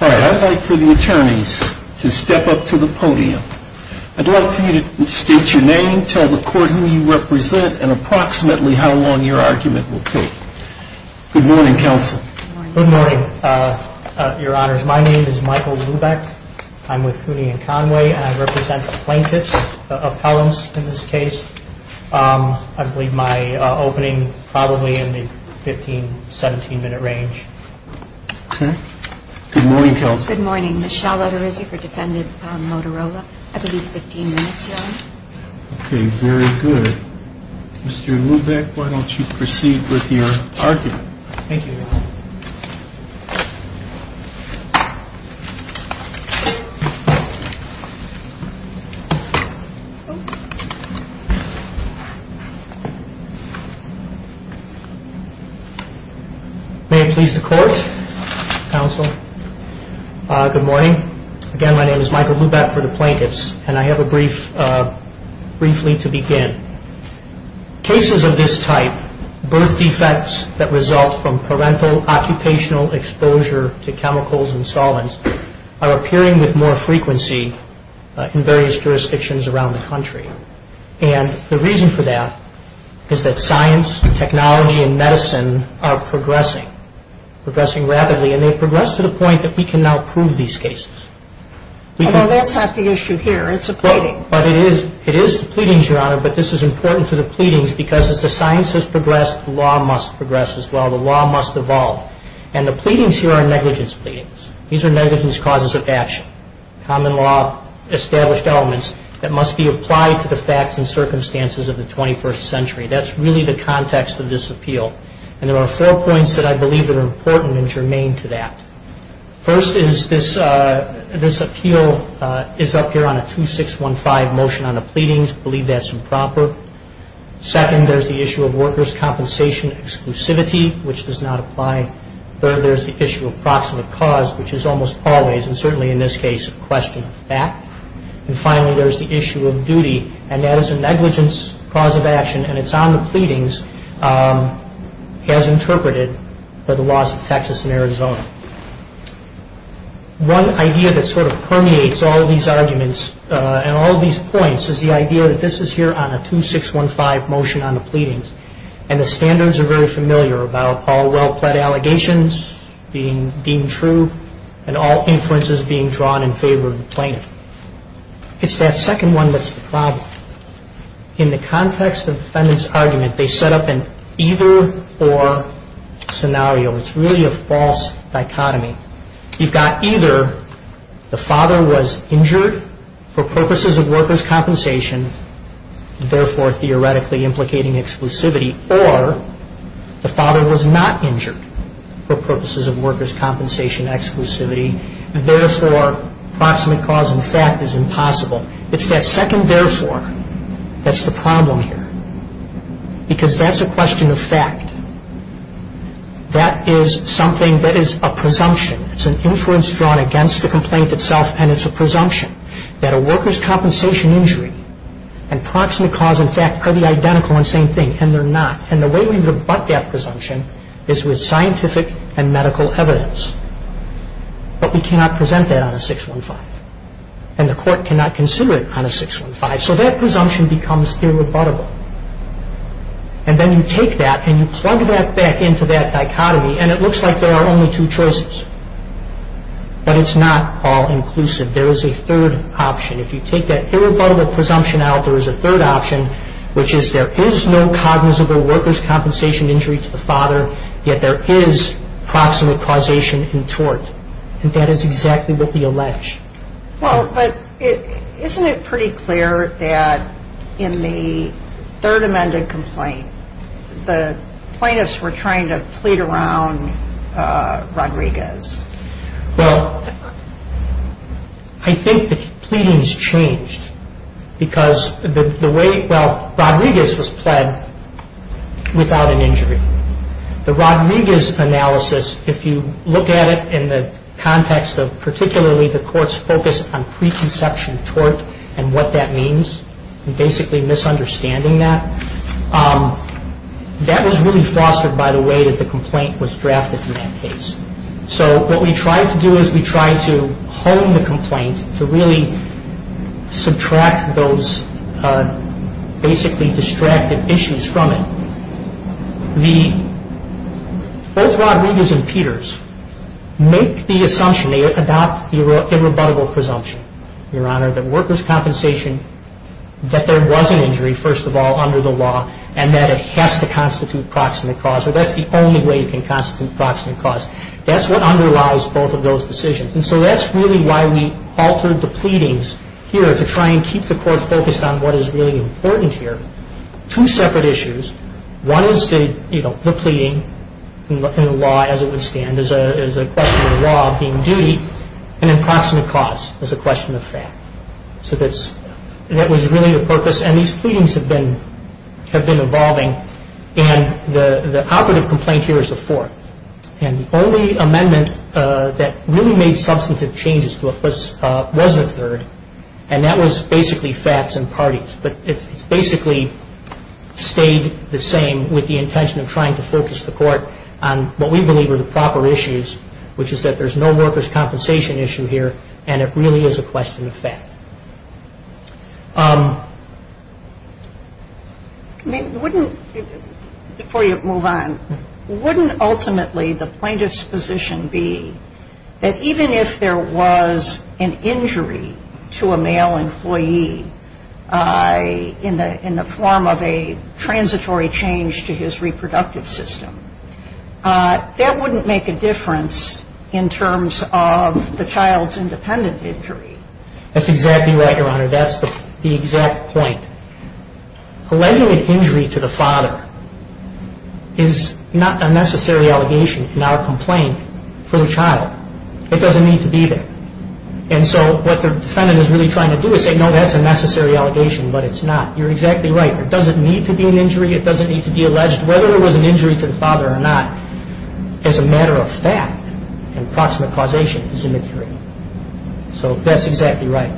I'd like for the attorneys to step up to the podium. I'd love for you to state your name, tell the court who you represent, and approximately how long your argument will take. Good morning, counsel. Good morning, Your Honors. My name is Michael Lubeck. I'm with Cooney & Conway, and I represent plaintiffs, appellants in this case. I believe my opening, probably in the 15, 17-minute range. Good morning, counsel. Good morning. Michelle Lederizzi for defendant Motorola. I believe 15 minutes, Your Honor. Okay, very good. Mr. Lubeck, why don't you proceed with your argument. Thank you, Your Honor. May it please the court, counsel. Good morning. Again, my name is Michael Lubeck for the plaintiffs, and I have a brief, briefly to begin. I'd like to begin by saying that this is not a case that we can prove. It's not a case that we can prove. It's a case that we can prove. It's a case that we can prove. This is important to the pleadings because as the science has progressed, the law must progress as well. The law must evolve. And the pleadings here are negligence pleadings. These are negligence causes of action. Common law established elements that must be applied to the facts and circumstances of the 21st century. That's really the context of this appeal, and there are four points that I believe are important and germane to that. First is this appeal is up here on a 2615 motion on the pleadings. I believe that's improper. Second, there's the issue of workers' compensation exclusivity, which does not apply. Third, there's the issue of proximate cause, which is almost always, and certainly in this case, a question of fact. And finally, there's the issue of duty, and that is a negligence cause of action, and it's on the pleadings as interpreted by the laws of Texas and Arizona. One idea that sort of permeates all these arguments and all these points is the idea that this is here on a 2615 motion on the pleadings, and the standards are very familiar about all well-plead allegations being deemed true and all inferences being drawn in favor of the plaintiff. It's that second one that's the problem. In the context of the defendant's argument, they set up an either-or scenario. It's really a false dichotomy. You've got either the father was injured for purposes of workers' compensation, therefore theoretically implicating exclusivity, or the father was not injured for purposes of workers' compensation exclusivity, therefore proximate cause in fact is impossible. It's that second therefore that's the problem here, because that's a question of fact. That is something that is a presumption. It's an inference drawn against the complaint itself, and it's a presumption that a workers' compensation injury and proximate cause in fact are the identical and same thing, and they're not. And the way we rebut that presumption is with scientific and medical evidence. But we cannot present that on a 615, and the court cannot consider it on a 615, so that presumption becomes irrebuttable. And then you take that and you plug that back into that dichotomy, and it looks like there are only two choices, but it's not all inclusive. There is a third option. If you take that irrebuttable presumption out, there is a third option, which is there is no cognizable workers' compensation injury to the father, yet there is proximate causation in tort, and that is exactly what we allege. Well, but isn't it pretty clear that in the Third Amendment complaint, the plaintiffs were trying to plead around Rodriguez? Well, I think the pleadings changed, because the way, well, Rodriguez was pled without an injury. The Rodriguez analysis, if you look at it in the context of particularly the court's focus on preconception tort and what that means, basically misunderstanding that, that was really fostered by the way that the complaint was drafted in that case. So what we tried to do is we tried to hone the complaint to really subtract those basically distracted issues from it. Both Rodriguez and Peters make the assumption, they adopt the irrebuttable presumption, Your Honor, that workers' compensation, that there was an injury, first of all, under the law, and that it has to constitute proximate cause, or that's the only way it can constitute proximate cause. That's what underlies both of those decisions, and so that's really why we altered the pleadings here to try and keep the court focused on what is really important here, two separate issues. One is the pleading in the law as it would stand as a question of law being duty, and then proximate cause as a question of fact. So that was really the purpose, and these pleadings have been evolving, and the operative complaint here is the fourth, and the only amendment that really made substantive changes to it was the third, and that was basically facts and parties. But it's basically stayed the same with the intention of trying to focus the court on what we believe are the proper issues, which is that there's no workers' compensation issue here, and it really is a question of fact. I mean, wouldn't, before you move on, wouldn't ultimately the plaintiff's position be that even if there was an injury to a male employee in the form of a transitory change to his reproductive system, that wouldn't make a difference in terms of the child's independent injury? That's exactly right, Your Honor. That's the exact point. Alleging an injury to the father is not a necessary allegation in our complaint for the child. It doesn't need to be there. And so what the defendant is really trying to do is say, no, that's a necessary allegation, but it's not. You're exactly right. There doesn't need to be an injury. It doesn't need to be alleged. Whether there was an injury to the father or not, as a matter of fact, and proximate causation is immaterial. So that's exactly right.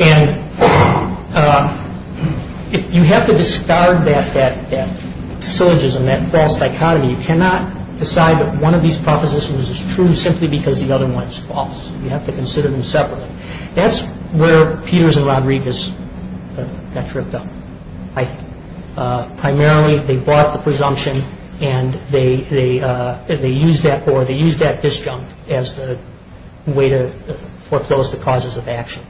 And you have to discard that syllogism, that false dichotomy. You cannot decide that one of these propositions is true simply because the other one is false. You have to consider them separately. That's where Peters and Rodriguez got tripped up, I think. Primarily they bought the presumption and they used that or they used that disjunct as the way to foreclose the causes of action.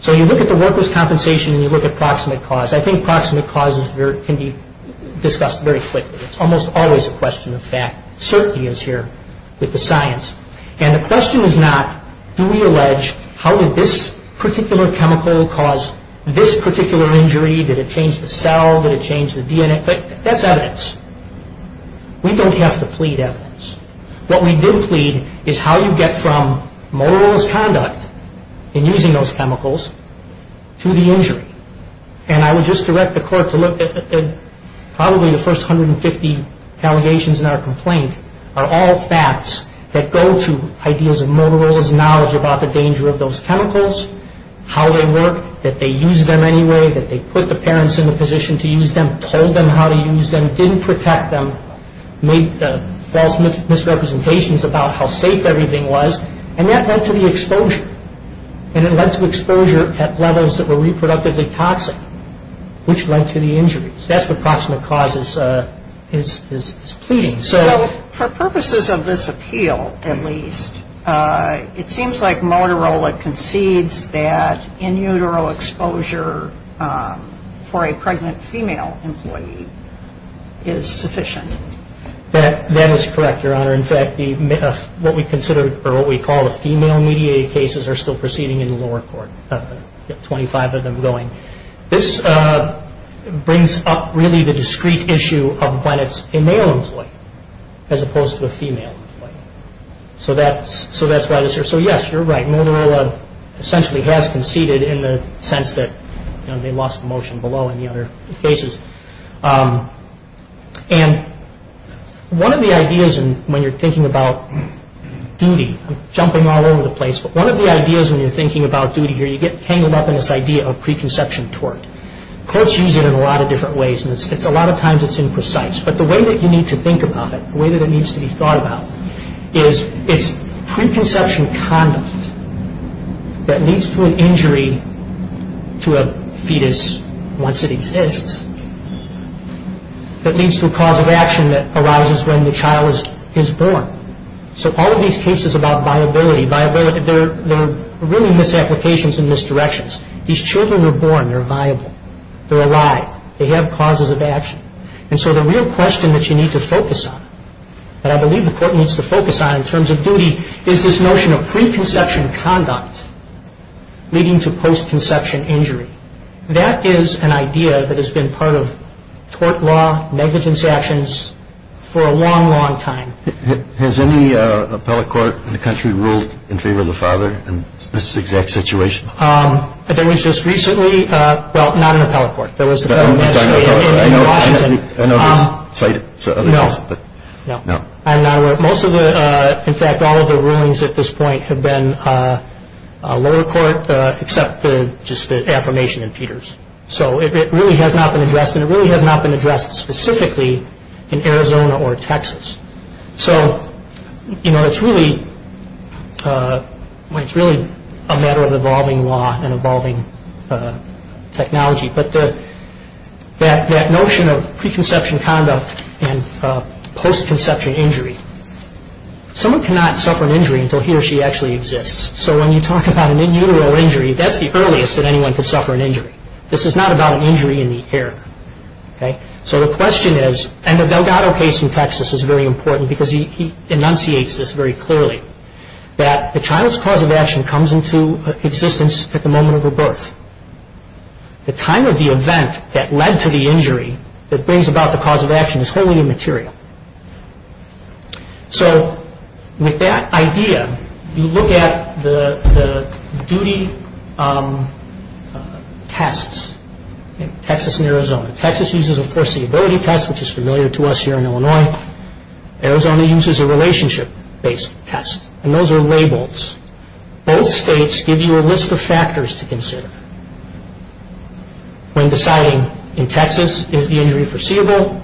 So you look at the workers' compensation and you look at proximate cause. I think proximate cause can be discussed very quickly. It's almost always a question of fact. It certainly is here with the science. And the question is not, do we allege how did this particular chemical cause this particular injury? Did it change the cell? Did it change the DNA? That's evidence. We don't have to plead evidence. What we did plead is how you get from Motorola's conduct in using those chemicals to the injury. And I would just direct the Court to look at probably the first 150 allegations in our complaint are all facts that go to ideas of Motorola's knowledge about the danger of those chemicals, how they work, that they used them anyway, that they put the parents in the position to use them, told them how to use them, didn't protect them, made false misrepresentations about how safe everything was. And that led to the exposure. And it led to exposure at levels that were reproductively toxic, which led to the injuries. That's what proximate cause is pleading. So for purposes of this appeal, at least, it seems like Motorola concedes that in utero exposure for a pregnant female employee is sufficient. That is correct, Your Honor. In fact, what we consider or what we call the female mediated cases are still proceeding in the lower court. We've got 25 of them going. This brings up really the discrete issue of when it's a male employee as opposed to a female employee. So that's why this is here. So, yes, you're right. Motorola essentially has conceded in the sense that they lost the motion below in the other cases. And one of the ideas when you're thinking about duty, I'm jumping all over the place, but one of the ideas when you're thinking about duty here, you get tangled up in this idea of preconception tort. Courts use it in a lot of different ways. And a lot of times it's imprecise. But the way that you need to think about it, the way that it needs to be thought about, is it's preconception conduct that leads to an injury to a fetus once it exists that leads to a cause of action that arises when the child is born. So all of these cases about viability, they're really misapplications and misdirections. These children were born. They're viable. They're alive. They have causes of action. And so the real question that you need to focus on, that I believe the court needs to focus on in terms of duty, is this notion of preconception conduct leading to postconception injury. That is an idea that has been part of tort law, negligence actions for a long, long time. Has any appellate court in the country ruled in favor of the father in this exact situation? There was just recently, well, not an appellate court. There was an appellate magistrate in Washington. I know this is cited to other cases. No. No. I'm not aware. Most of the, in fact, all of the rulings at this point have been lower court, except just the affirmation in Peters. So it really has not been addressed, and it really has not been addressed specifically in Arizona or Texas. So, you know, it's really a matter of evolving law and evolving technology. But that notion of preconception conduct and postconception injury, someone cannot suffer an injury until he or she actually exists. So when you talk about an in utero injury, that's the earliest that anyone can suffer an injury. This is not about an injury in the air. So the question is, and the Delgado case in Texas is very important, because he enunciates this very clearly, that the child's cause of action comes into existence at the moment of her birth. The time of the event that led to the injury that brings about the cause of action is wholly immaterial. So with that idea, you look at the duty tests in Texas and Arizona. Texas uses, of course, the ability test, which is familiar to us here in Illinois. Arizona uses a relationship-based test, and those are labels. Both states give you a list of factors to consider when deciding in Texas, is the injury foreseeable?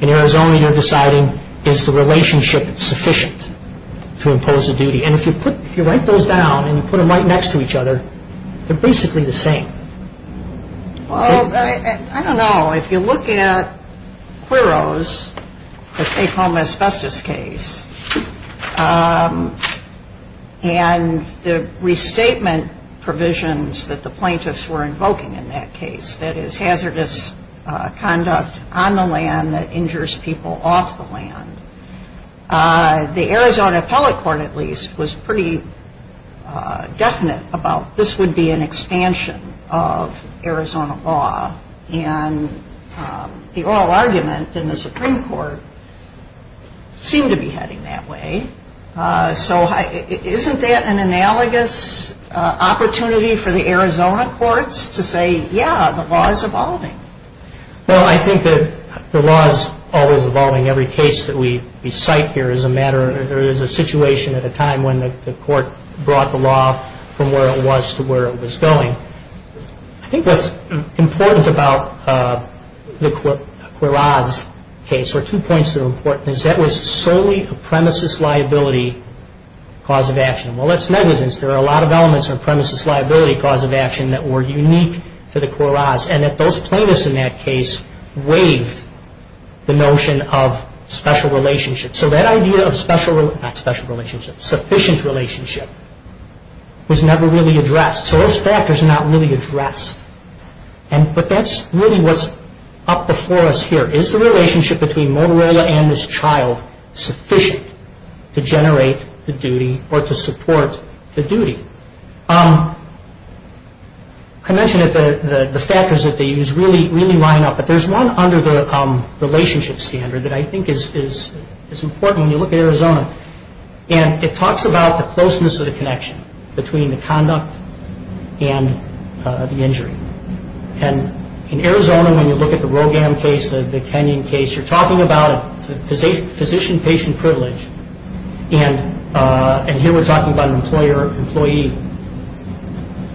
In Arizona, you're deciding, is the relationship sufficient to impose a duty? And if you write those down and you put them right next to each other, they're basically the same. Well, I don't know. If you look at Quiros, the take-home asbestos case, and the restatement provisions that the plaintiffs were invoking in that case, that is hazardous conduct on the land that injures people off the land, the Arizona Appellate Court, at least, was pretty definite about this would be an expansion of Arizona law. And the oral argument in the Supreme Court seemed to be heading that way. So isn't that an analogous opportunity for the Arizona courts to say, yeah, the law is evolving? Well, I think that the law is always evolving. Every case that we cite here is a matter, or there is a situation at a time when the court brought the law from where it was to where it was going. I think what's important about the Quiros case, or two points that are important, is that was solely a premises liability cause of action. Well, that's negligence. There are a lot of elements of premises liability cause of action that were unique to the Quiros, and that those plaintiffs in that case waived the notion of special relationship. So that idea of sufficient relationship was never really addressed. So those factors are not really addressed. But that's really what's up before us here. Is the relationship between Motorola and this child sufficient to generate the duty or to support the duty? I mentioned that the factors that they use really line up, but there's one under the relationship standard that I think is important when you look at Arizona, and it talks about the closeness of the connection between the conduct and the injury. And in Arizona, when you look at the Rogam case, the Kenyon case, you're talking about physician-patient privilege, and here we're talking about an employer-employee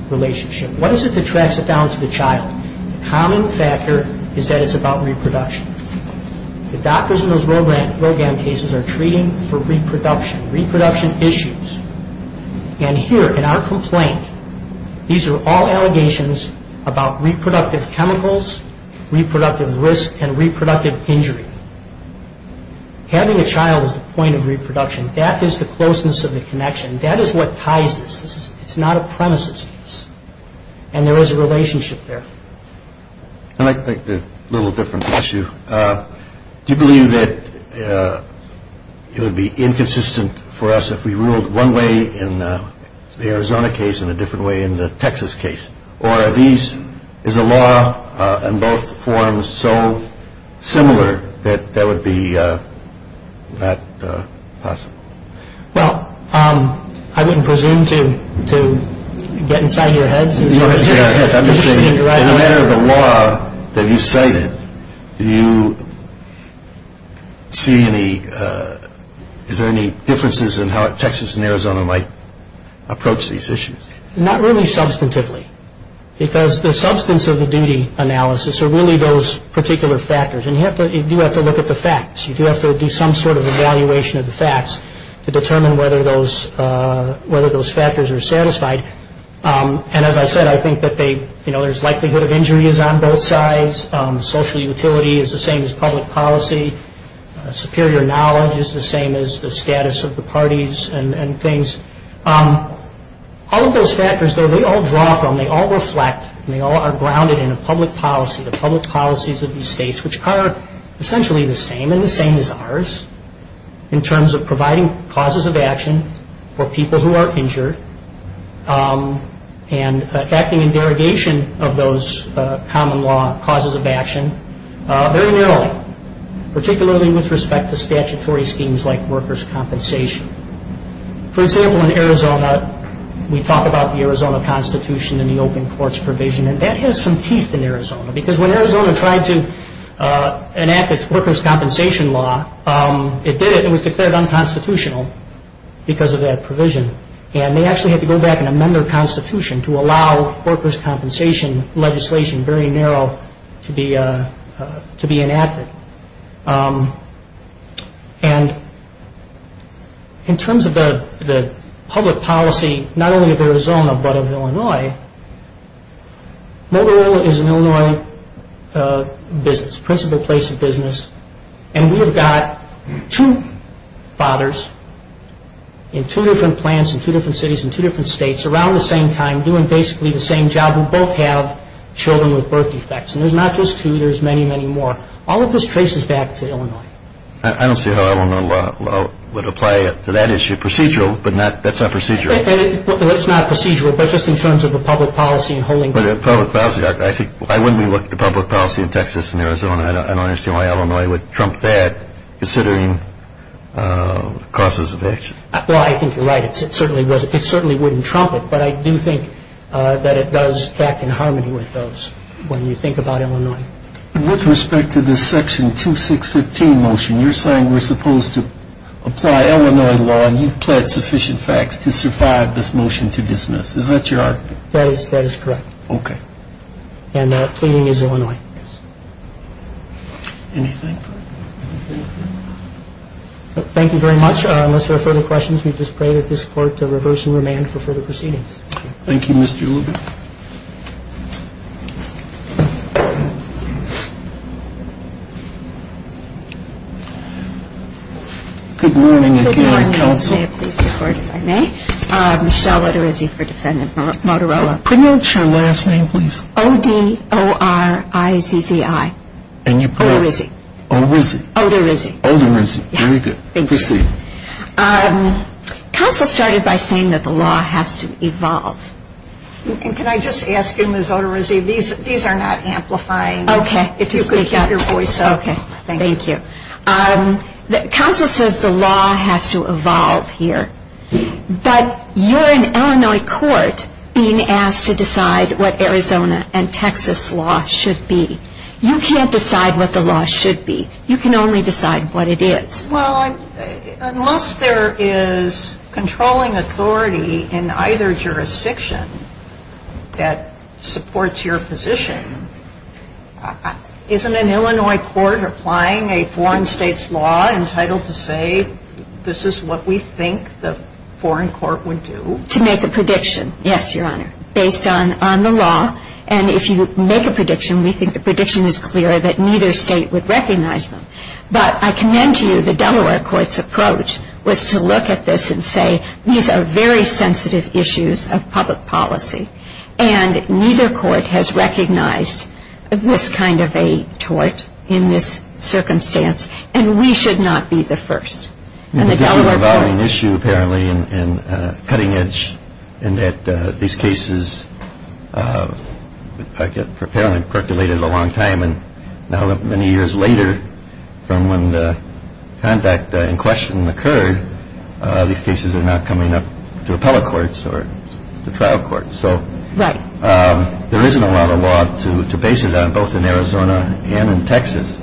relationship. What is it that tracks it down to the child? The common factor is that it's about reproduction. The doctors in those Rogam cases are treating for reproduction, reproduction issues. And here, in our complaint, these are all allegations about reproductive chemicals, reproductive risk, and reproductive injury. Having a child is the point of reproduction. That is the closeness of the connection. That is what ties this. It's not a premises case. And there is a relationship there. I'd like to make this a little different issue. Do you believe that it would be inconsistent for us if we ruled one way in the Arizona case and a different way in the Texas case? Or is a law in both forms so similar that that would be not possible? Well, I wouldn't presume to get inside your head. I'm just saying, as a matter of the law that you cited, do you see any differences in how Texas and Arizona might approach these issues? Not really substantively. Because the substance of the duty analysis are really those particular factors. And you do have to look at the facts. You do have to do some sort of evaluation of the facts to determine whether those factors are satisfied. And as I said, I think that there's likelihood of injuries on both sides. Social utility is the same as public policy. Superior knowledge is the same as the status of the parties and things. All of those factors, though, they all draw from, they all reflect, and they all are grounded in a public policy, the public policies of these states, which are essentially the same, and the same as ours, in terms of providing causes of action for people who are injured and acting in derogation of those common law causes of action very narrowly, particularly with respect to statutory schemes like workers' compensation. For example, in Arizona, we talk about the Arizona Constitution and the open courts provision, and that has some teeth in Arizona. Because when Arizona tried to enact its workers' compensation law, it did it. It was declared unconstitutional because of that provision. And they actually had to go back and amend their constitution to allow workers' compensation legislation, very narrow, to be enacted. And in terms of the public policy, not only of Arizona but of Illinois, Motorola is an Illinois business, principal place of business, and we have got two fathers in two different plants in two different cities in two different states around the same time doing basically the same job who both have children with birth defects. And there's not just two, there's many, many more. All of this traces back to Illinois. I don't see how Illinois law would apply to that issue. Procedural, but that's not procedural. Well, it's not procedural, but just in terms of the public policy and holding people. But the public policy, I think, why wouldn't we look at the public policy in Texas and Arizona? I don't understand why Illinois would trump that considering causes of action. Well, I think you're right. It certainly wouldn't trump it, but I do think that it does act in harmony with those when you think about Illinois. With respect to this section 2615 motion, you're saying we're supposed to apply Illinois law and you've pled sufficient facts to survive this motion to dismiss. Is that your argument? That is correct. Okay. And the pleading is Illinois. Yes. Anything? Thank you very much. Unless there are further questions, we just pray that this court to reverse and remand for further proceedings. Thank you, Mr. Ullman. Good morning. Good morning. Counsel, may I please report, if I may? Michelle Odorizzi for Defendant Motorola. Could I get your last name, please? O-D-O-R-I-Z-Z-I. Odorizzi. Odorizzi. Very good. Thank you. Proceed. Counsel started by saying that the law has to evolve. And can I just ask you, Ms. Odorizzi, these are not amplifying. Okay. If you could keep your voice up. Okay. Thank you. Counsel says the law has to evolve here. But you're an Illinois court being asked to decide what Arizona and Texas law should be. You can't decide what the law should be. You can only decide what it is. Well, unless there is controlling authority in either jurisdiction that supports your position, isn't an Illinois court applying a foreign state's law entitled to say this is what we think the foreign court would do? To make a prediction, yes, Your Honor, based on the law. And if you make a prediction, we think the prediction is clear that neither state would recognize them. But I commend to you the Delaware court's approach was to look at this and say these are very sensitive issues of public policy. And neither court has recognized this kind of a tort in this circumstance. And we should not be the first. And the Delaware court. This is an evolving issue, apparently, and a cutting edge, in that these cases apparently percolated a long time. And now many years later, from when the conduct in question occurred, these cases are now coming up to appellate courts or to trial courts. So there isn't a lot of law to base it on, both in Arizona and in Texas.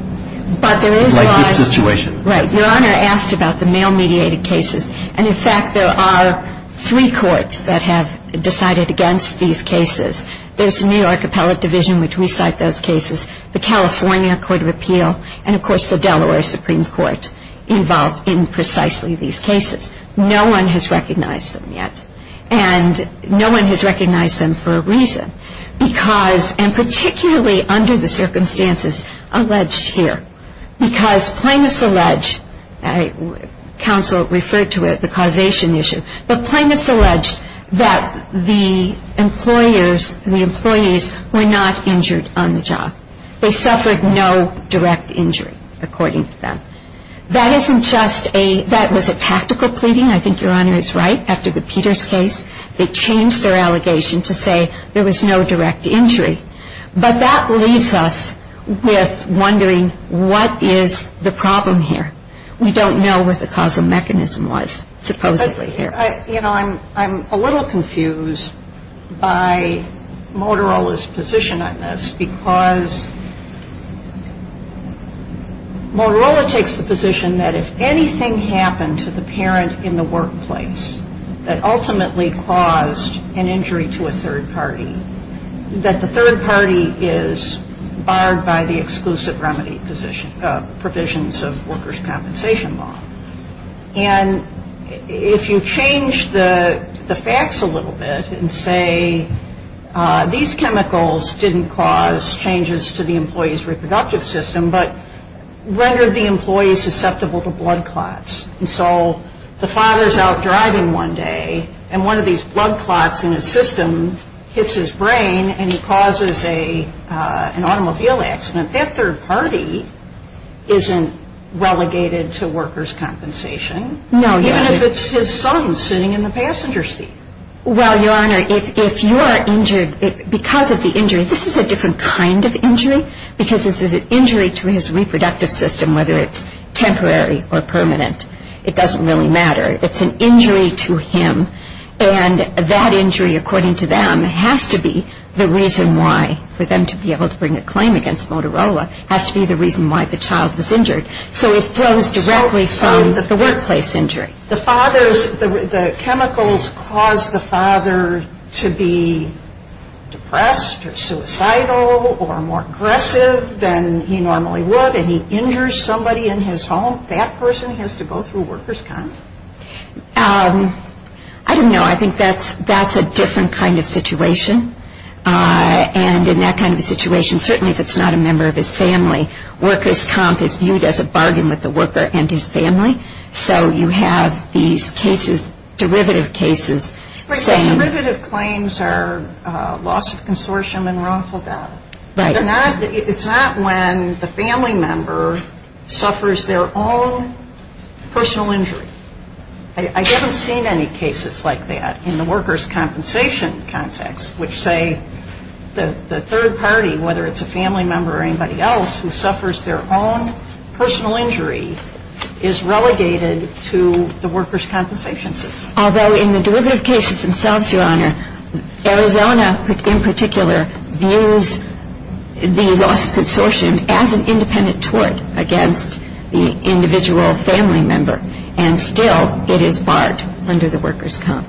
But there is law. Like this situation. Right. Your Honor asked about the male-mediated cases. And, in fact, there are three courts that have decided against these cases. There's the New York Appellate Division, which we cite those cases. The California Court of Appeal. And, of course, the Delaware Supreme Court involved in precisely these cases. No one has recognized them yet. And no one has recognized them for a reason. Because, and particularly under the circumstances alleged here. Because plaintiffs allege, counsel referred to it, the causation issue. But plaintiffs allege that the employers, the employees, were not injured on the job. They suffered no direct injury, according to them. That isn't just a, that was a tactical pleading. I think Your Honor is right. After the Peters case, they changed their allegation to say there was no direct injury. But that leaves us with wondering, what is the problem here? We don't know what the causal mechanism was, supposedly, here. But, you know, I'm a little confused by Motorola's position on this. Because Motorola takes the position that if anything happened to the parent in the workplace that ultimately caused an injury to a third party, that the third party is barred by the exclusive remedy provisions of workers' compensation law. And if you change the facts a little bit and say, these chemicals didn't cause changes to the employee's reproductive system, but rendered the employee susceptible to blood clots. And so the father is out driving one day, and one of these blood clots in his system hits his brain, and he causes an automobile accident. That third party isn't relegated to workers' compensation. No, Your Honor. Even if it's his son sitting in the passenger seat. Well, Your Honor, if you are injured because of the injury, this is a different kind of injury. Because this is an injury to his reproductive system, whether it's temporary or permanent. It doesn't really matter. It's an injury to him. And that injury, according to them, has to be the reason why, for them to be able to bring a claim against Motorola, has to be the reason why the child was injured. So it flows directly from the workplace injury. The father's, the chemicals cause the father to be depressed or suicidal or more aggressive than he normally would, and he injures somebody in his home. That person has to go through workers' comp. I don't know. I think that's a different kind of situation. And in that kind of situation, certainly if it's not a member of his family, workers' comp is viewed as a bargain with the worker and his family. So you have these cases, derivative cases. Right. So derivative claims are loss of consortium and wrongful death. Right. It's not when the family member suffers their own personal injury. I haven't seen any cases like that in the workers' compensation context, which say the third party, whether it's a family member or anybody else, who suffers their own personal injury is relegated to the workers' compensation system. Although in the derivative cases themselves, Your Honor, Arizona in particular views the loss of consortium as an independent tort against the individual family member, and still it is barred under the workers' comp.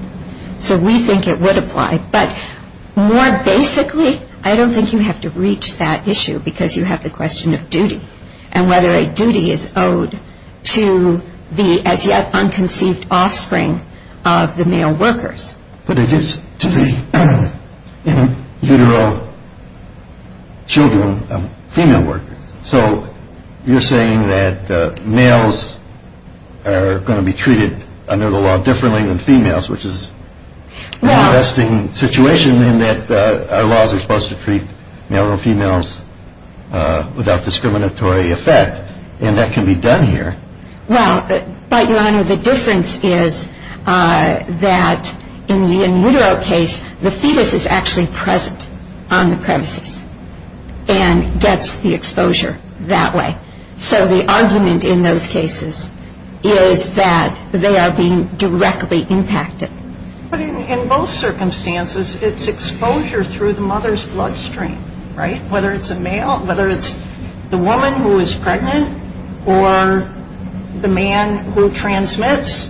So we think it would apply. But more basically, I don't think you have to reach that issue because you have the question of duty and whether a duty is owed to the as-yet-unconceived offspring of the male workers. But it is to the in-utero children of female workers. So you're saying that males are going to be treated under the law differently than females, which is an interesting situation in that our laws are supposed to treat male and females without discriminatory effect, and that can be done here. Well, but, Your Honor, the difference is that in the in-utero case, the fetus is actually present on the premises and gets the exposure that way. So the argument in those cases is that they are being directly impacted. But in both circumstances, it's exposure through the mother's bloodstream, right? Whether it's a male, whether it's the woman who is pregnant or the man who transmits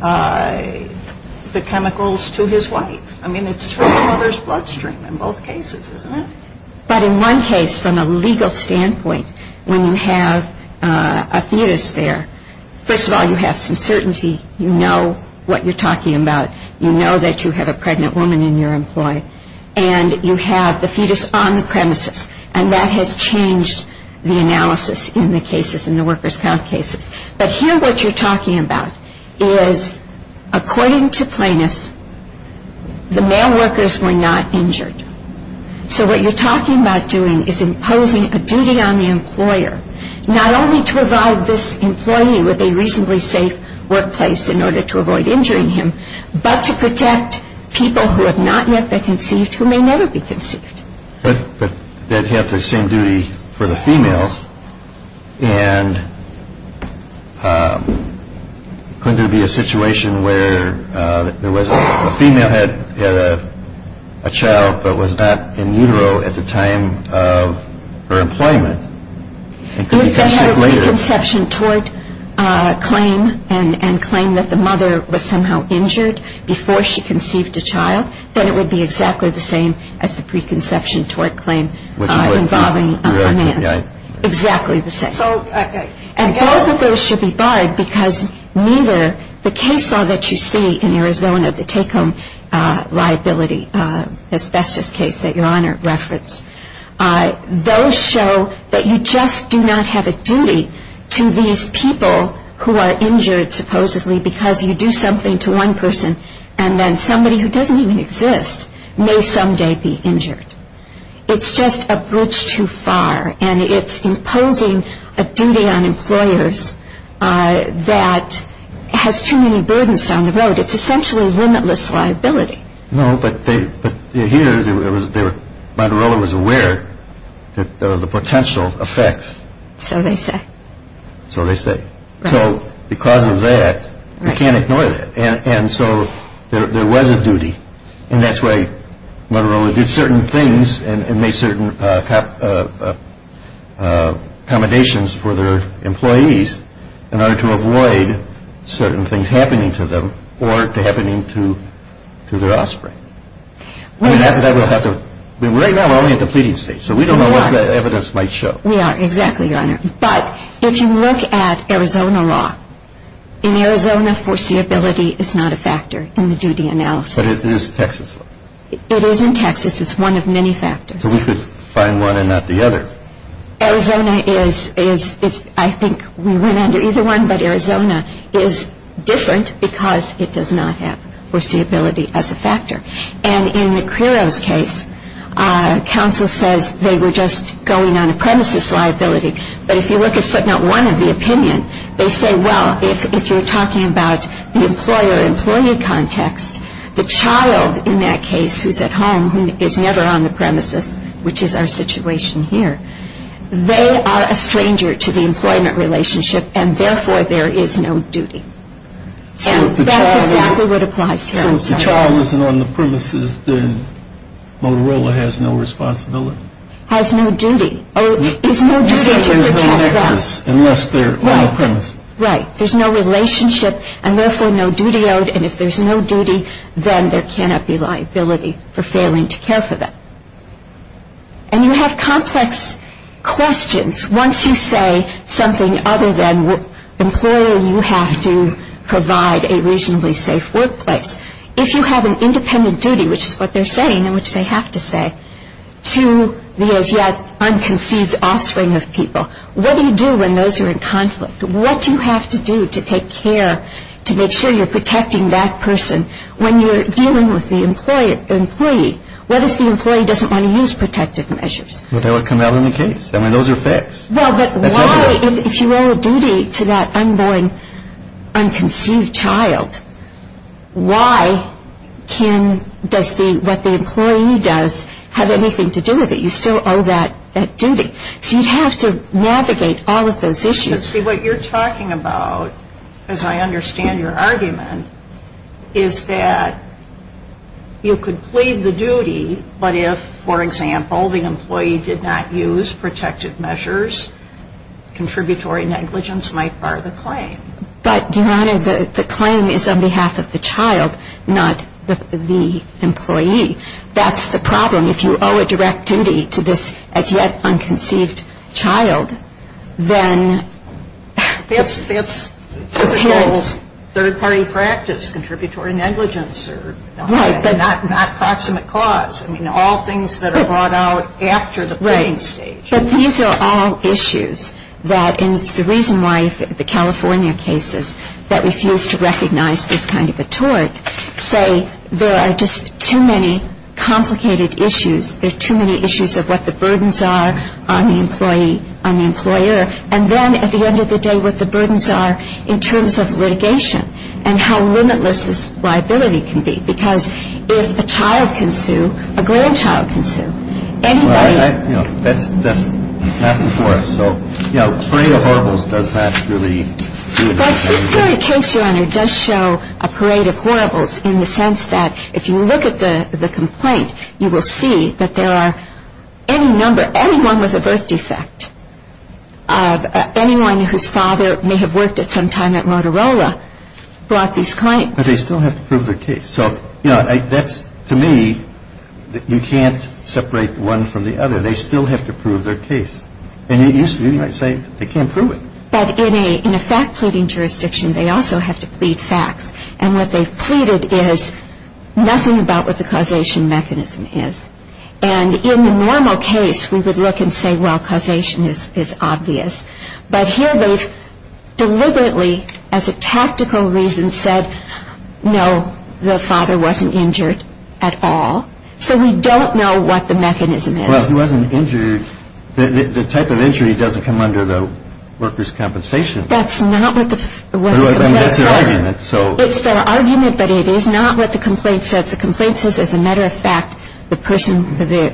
the chemicals to his wife. I mean, it's through the mother's bloodstream in both cases, isn't it? But in one case, from a legal standpoint, when you have a fetus there, first of all, you have some certainty. You know what you're talking about. You know that you have a pregnant woman in your employ. And you have the fetus on the premises. And that has changed the analysis in the cases, in the workers' count cases. But here what you're talking about is, according to plaintiffs, the male workers were not injured. So what you're talking about doing is imposing a duty on the employer, not only to provide this employee with a reasonably safe workplace in order to avoid injuring him, but to protect people who have not yet been conceived who may never be conceived. But they'd have the same duty for the females. And couldn't there be a situation where there was a female who had a child but was not in utero at the time of her employment and could become sick later? If they had a preconception tort claim and claimed that the mother was somehow injured before she conceived a child, then it would be exactly the same as the preconception tort claim involving a man. Exactly the same. And both of those should be barred, because neither the case law that you see in Arizona, the take-home liability asbestos case that Your Honor referenced, those show that you just do not have a duty to these people who are injured, supposedly because you do something to one person and then somebody who doesn't even exist may someday be injured. It's just a bridge too far, and it's imposing a duty on employers that has too many burdens down the road. It's essentially limitless liability. No, but here Motorola was aware of the potential effects. So they say. So they say. So because of that, you can't ignore that. And so there was a duty, and that's why Motorola did certain things and made certain accommodations for their employees in order to avoid certain things happening to them or happening to their offspring. Right now we're only at the pleading stage, so we don't know what the evidence might show. We are, exactly, Your Honor. But if you look at Arizona law, in Arizona foreseeability is not a factor in the duty analysis. But it is Texas law. It is in Texas. It's one of many factors. So we could find one and not the other. Arizona is, I think we went under either one, but Arizona is different because it does not have foreseeability as a factor. And in the Carrillo's case, counsel says they were just going on a premises liability. But if you look at footnote one of the opinion, they say, well, if you're talking about the employer-employee context, the child in that case who's at home who is never on the premises, which is our situation here, they are a stranger to the employment relationship, and therefore there is no duty. And that's exactly what applies here. So if the child isn't on the premises, then Motorola has no responsibility? Has no duty. Oh, is no duty to protect that. You said there's no nexus unless they're on the premises. Right. There's no relationship, and therefore no duty owed. And if there's no duty, then there cannot be liability for failing to care for them. And you have complex questions once you say something other than employer, you have to provide a reasonably safe workplace. If you have an independent duty, which is what they're saying and which they have to say, to the as yet unconceived offspring of people, what do you do when those are in conflict? What do you have to do to take care, to make sure you're protecting that person? When you're dealing with the employee, what if the employee doesn't want to use protective measures? Well, that would come out in the case. I mean, those are fixed. Well, but why, if you owe a duty to that unborn, unconceived child, why does what the employee does have anything to do with it? You still owe that duty. So you have to navigate all of those issues. But, see, what you're talking about, as I understand your argument, is that you could plead the duty, but if, for example, the employee did not use protective measures, contributory negligence might bar the claim. But, Your Honor, the claim is on behalf of the child, not the employee. That's the problem. I mean, if you owe a direct duty to this as-yet-unconceived child, then it appears. That's typical third-party practice, contributory negligence. Right. Not proximate cause. I mean, all things that are brought out after the pleading stage. Right. But these are all issues that, and it's the reason why the California cases that refuse to recognize this kind of a tort say there are just too many complicated issues. There are too many issues of what the burdens are on the employee, on the employer. And then, at the end of the day, what the burdens are in terms of litigation and how limitless this liability can be. Because if a child can sue, a grandchild can sue. Anybody — Well, that, you know, that's not before us. So, you know, Parade of Horribles does not really do it. But this very case, Your Honor, does show a Parade of Horribles in the sense that if you look at the complaint, you will see that there are any number, anyone with a birth defect, anyone whose father may have worked at some time at Motorola brought these claims. But they still have to prove their case. So, you know, that's, to me, you can't separate one from the other. They still have to prove their case. And you might say they can't prove it. But in a fact-pleading jurisdiction, they also have to plead facts. And what they've pleaded is nothing about what the causation mechanism is. And in the normal case, we would look and say, well, causation is obvious. But here they've deliberately, as a tactical reason, said, no, the father wasn't injured at all. So we don't know what the mechanism is. Well, he wasn't injured. The type of injury doesn't come under the worker's compensation. That's not what the complaint says. That's their argument. It's their argument, but it is not what the complaint says. The complaint says, as a matter of fact, the person, the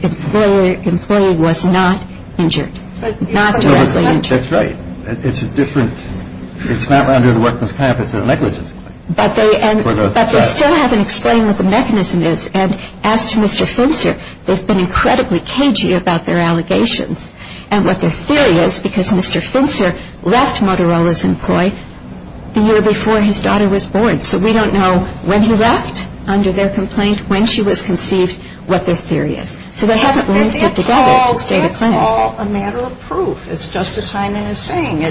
employee was not injured, not directly injured. That's right. It's a different, it's not under the worker's comp, it's a negligence claim. But they still haven't explained what the mechanism is. And as to Mr. Fincer, they've been incredibly cagey about their allegations and what their theory is because Mr. Fincer left Motorola's employee the year before his daughter was born. So we don't know when he left under their complaint, when she was conceived, what their theory is. So they haven't linked it together to state a claim. And it's all a matter of proof. It's just as Simon is saying.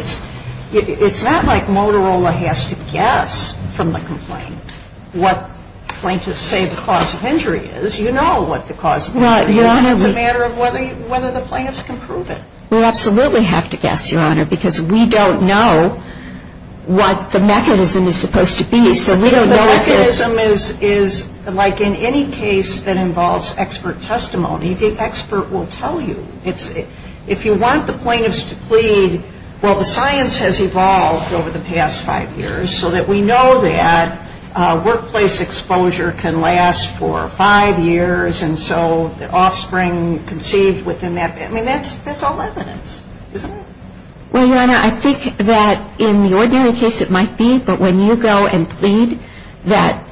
It's not like Motorola has to guess from the complaint what plaintiffs say the cause of injury is. You know what the cause of injury is. It's a matter of whether the plaintiffs can prove it. We absolutely have to guess, Your Honor, because we don't know what the mechanism is supposed to be. So we don't know if it's. The mechanism is like in any case that involves expert testimony, the expert will tell you. If you want the plaintiffs to plead, well, the science has evolved over the past five years so that we know that workplace exposure can last for five years, and so the offspring conceived within that, I mean, that's all evidence, isn't it? Well, Your Honor, I think that in the ordinary case it might be, but when you go and plead that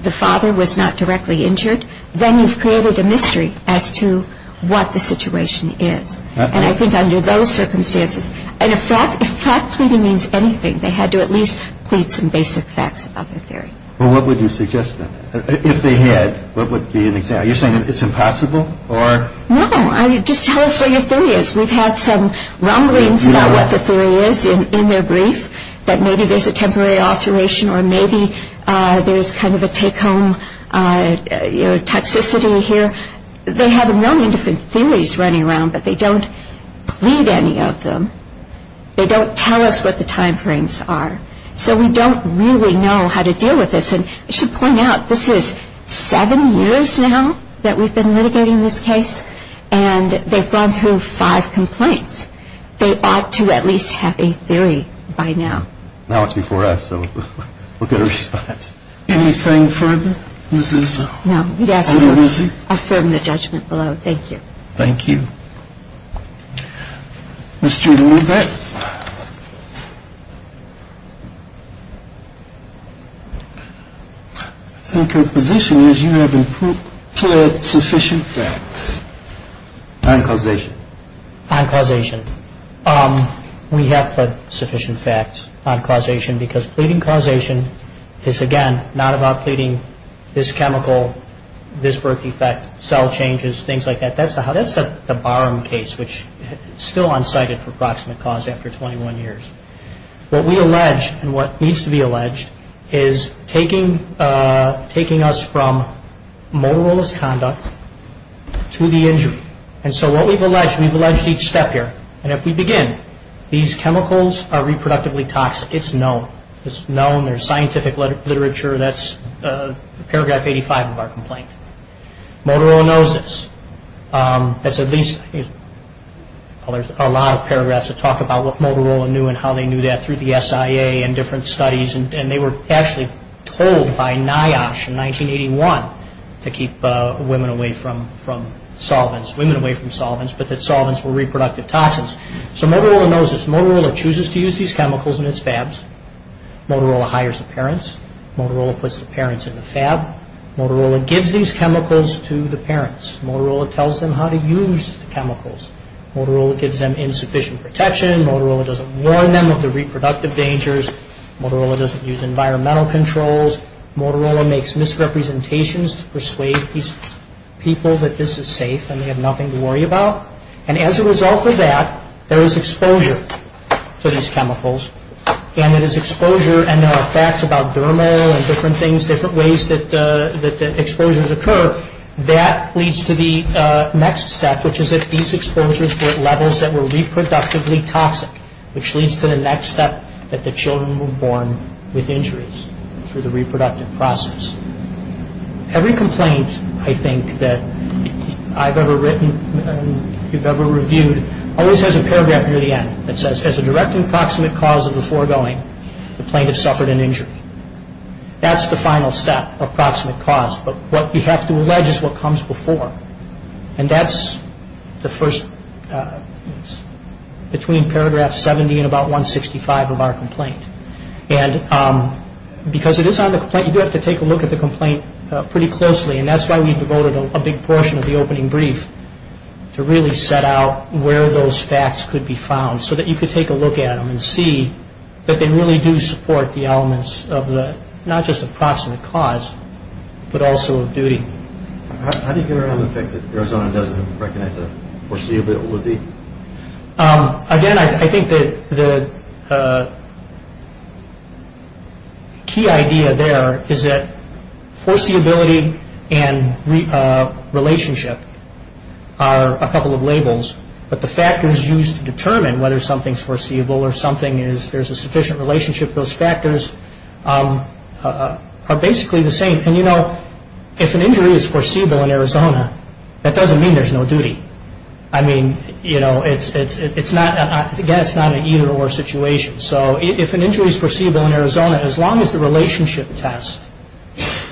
the father was not directly injured, then you've created a mystery as to what the situation is. And I think under those circumstances, and if fact pleading means anything, they had to at least plead some basic facts about their theory. Well, what would you suggest then? If they had, what would be an example? Are you saying it's impossible or? No. Just tell us what your theory is. We've had some rumblings about what the theory is in their brief, that maybe there's a temporary alteration or maybe there's kind of a take-home toxicity here. They have a million different theories running around, but they don't plead any of them. They don't tell us what the time frames are. So we don't really know how to deal with this, and I should point out this is seven years now that we've been litigating this case, and they've gone through five complaints. They ought to at least have a theory by now. Now it's before us, so we'll get a response. Anything further, Ms. Izzo? No, he'd ask you to affirm the judgment below. Thank you. Thank you. Mr. Ludbeck? I think her position is you haven't plead sufficient facts. On causation. On causation. We have plead sufficient facts on causation because pleading causation is, again, not about pleading this chemical, this birth defect, cell changes, things like that. That's the Barham case, which is still unsighted for proximate cause after 21 years. What we allege and what needs to be alleged is taking us from Motorola's conduct to the injury. And so what we've alleged, we've alleged each step here. And if we begin, these chemicals are reproductively toxic. It's known. It's known. There's scientific literature. That's paragraph 85 of our complaint. Motorola knows this. That's at least a lot of paragraphs that talk about what Motorola knew and how they knew that through the SIA and different studies. And they were actually told by NIOSH in 1981 to keep women away from solvents, women away from solvents, but that solvents were reproductive toxins. So Motorola knows this. Motorola chooses to use these chemicals in its fabs. Motorola hires the parents. Motorola gives these chemicals to the parents. Motorola tells them how to use the chemicals. Motorola gives them insufficient protection. Motorola doesn't warn them of the reproductive dangers. Motorola doesn't use environmental controls. Motorola makes misrepresentations to persuade these people that this is safe and they have nothing to worry about. And as a result of that, there is exposure to these chemicals. And it is exposure, and there are facts about dermal and different things, different ways that exposures occur. That leads to the next step, which is that these exposures were at levels that were reproductively toxic, which leads to the next step that the children were born with injuries through the reproductive process. Every complaint, I think, that I've ever written and you've ever reviewed always has a paragraph near the end that says, as a direct and proximate cause of the foregoing, the plaintiff suffered an injury. That's the final step of proximate cause. But what we have to allege is what comes before. And that's the first, between paragraph 70 and about 165 of our complaint. And because it is on the complaint, you do have to take a look at the complaint pretty closely. And that's why we devoted a big portion of the opening brief to really set out where those facts could be found so that you could take a look at them and see that they really do support the elements of not just the proximate cause, but also of duty. How do you get around the fact that Arizona doesn't recognize the foreseeability? Again, I think the key idea there is that foreseeability and relationship are a couple of labels, but the factors used to determine whether something's foreseeable or something is there's a sufficient relationship, those factors are basically the same. And, you know, if an injury is foreseeable in Arizona, that doesn't mean there's no duty. I mean, you know, it's not, again, it's not an either-or situation. So if an injury is foreseeable in Arizona, as long as the relationship test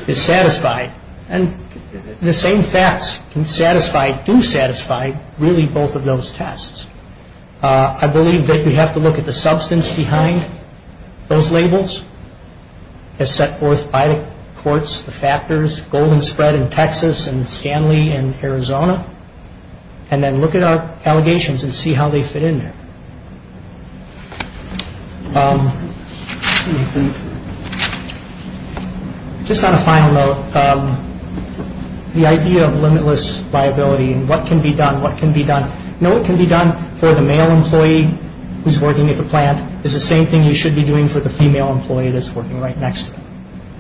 is satisfied, and the same facts can satisfy, do satisfy really both of those tests, I believe that we have to look at the substance behind those labels as set forth by the courts, the factors, Golden Spread in Texas and Scanly in Arizona, and then look at our allegations and see how they fit in there. Just on a final note, the idea of limitless viability and what can be done, what can be done. You know, what can be done for the male employee who's working at the plant is the same thing you should be doing for the female employee that's working right next to him.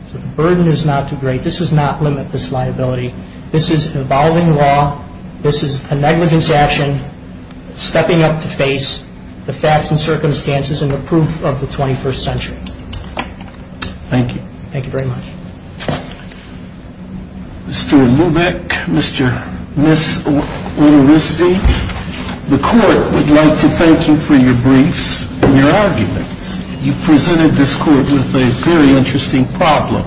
So the burden is not too great. This does not limit this liability. This is an evolving law. This is a negligence action, stepping up to face the facts and circumstances and the proof of the 21st century. Thank you. Thank you very much. Mr. Lubeck, Mr. and Ms. Ulrisse, the court would like to thank you for your briefs and your arguments. You presented this court with a very interesting problem.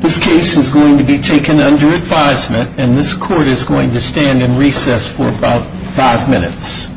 This case is going to be taken under advisement, and this court is going to stand in recess for about five minutes.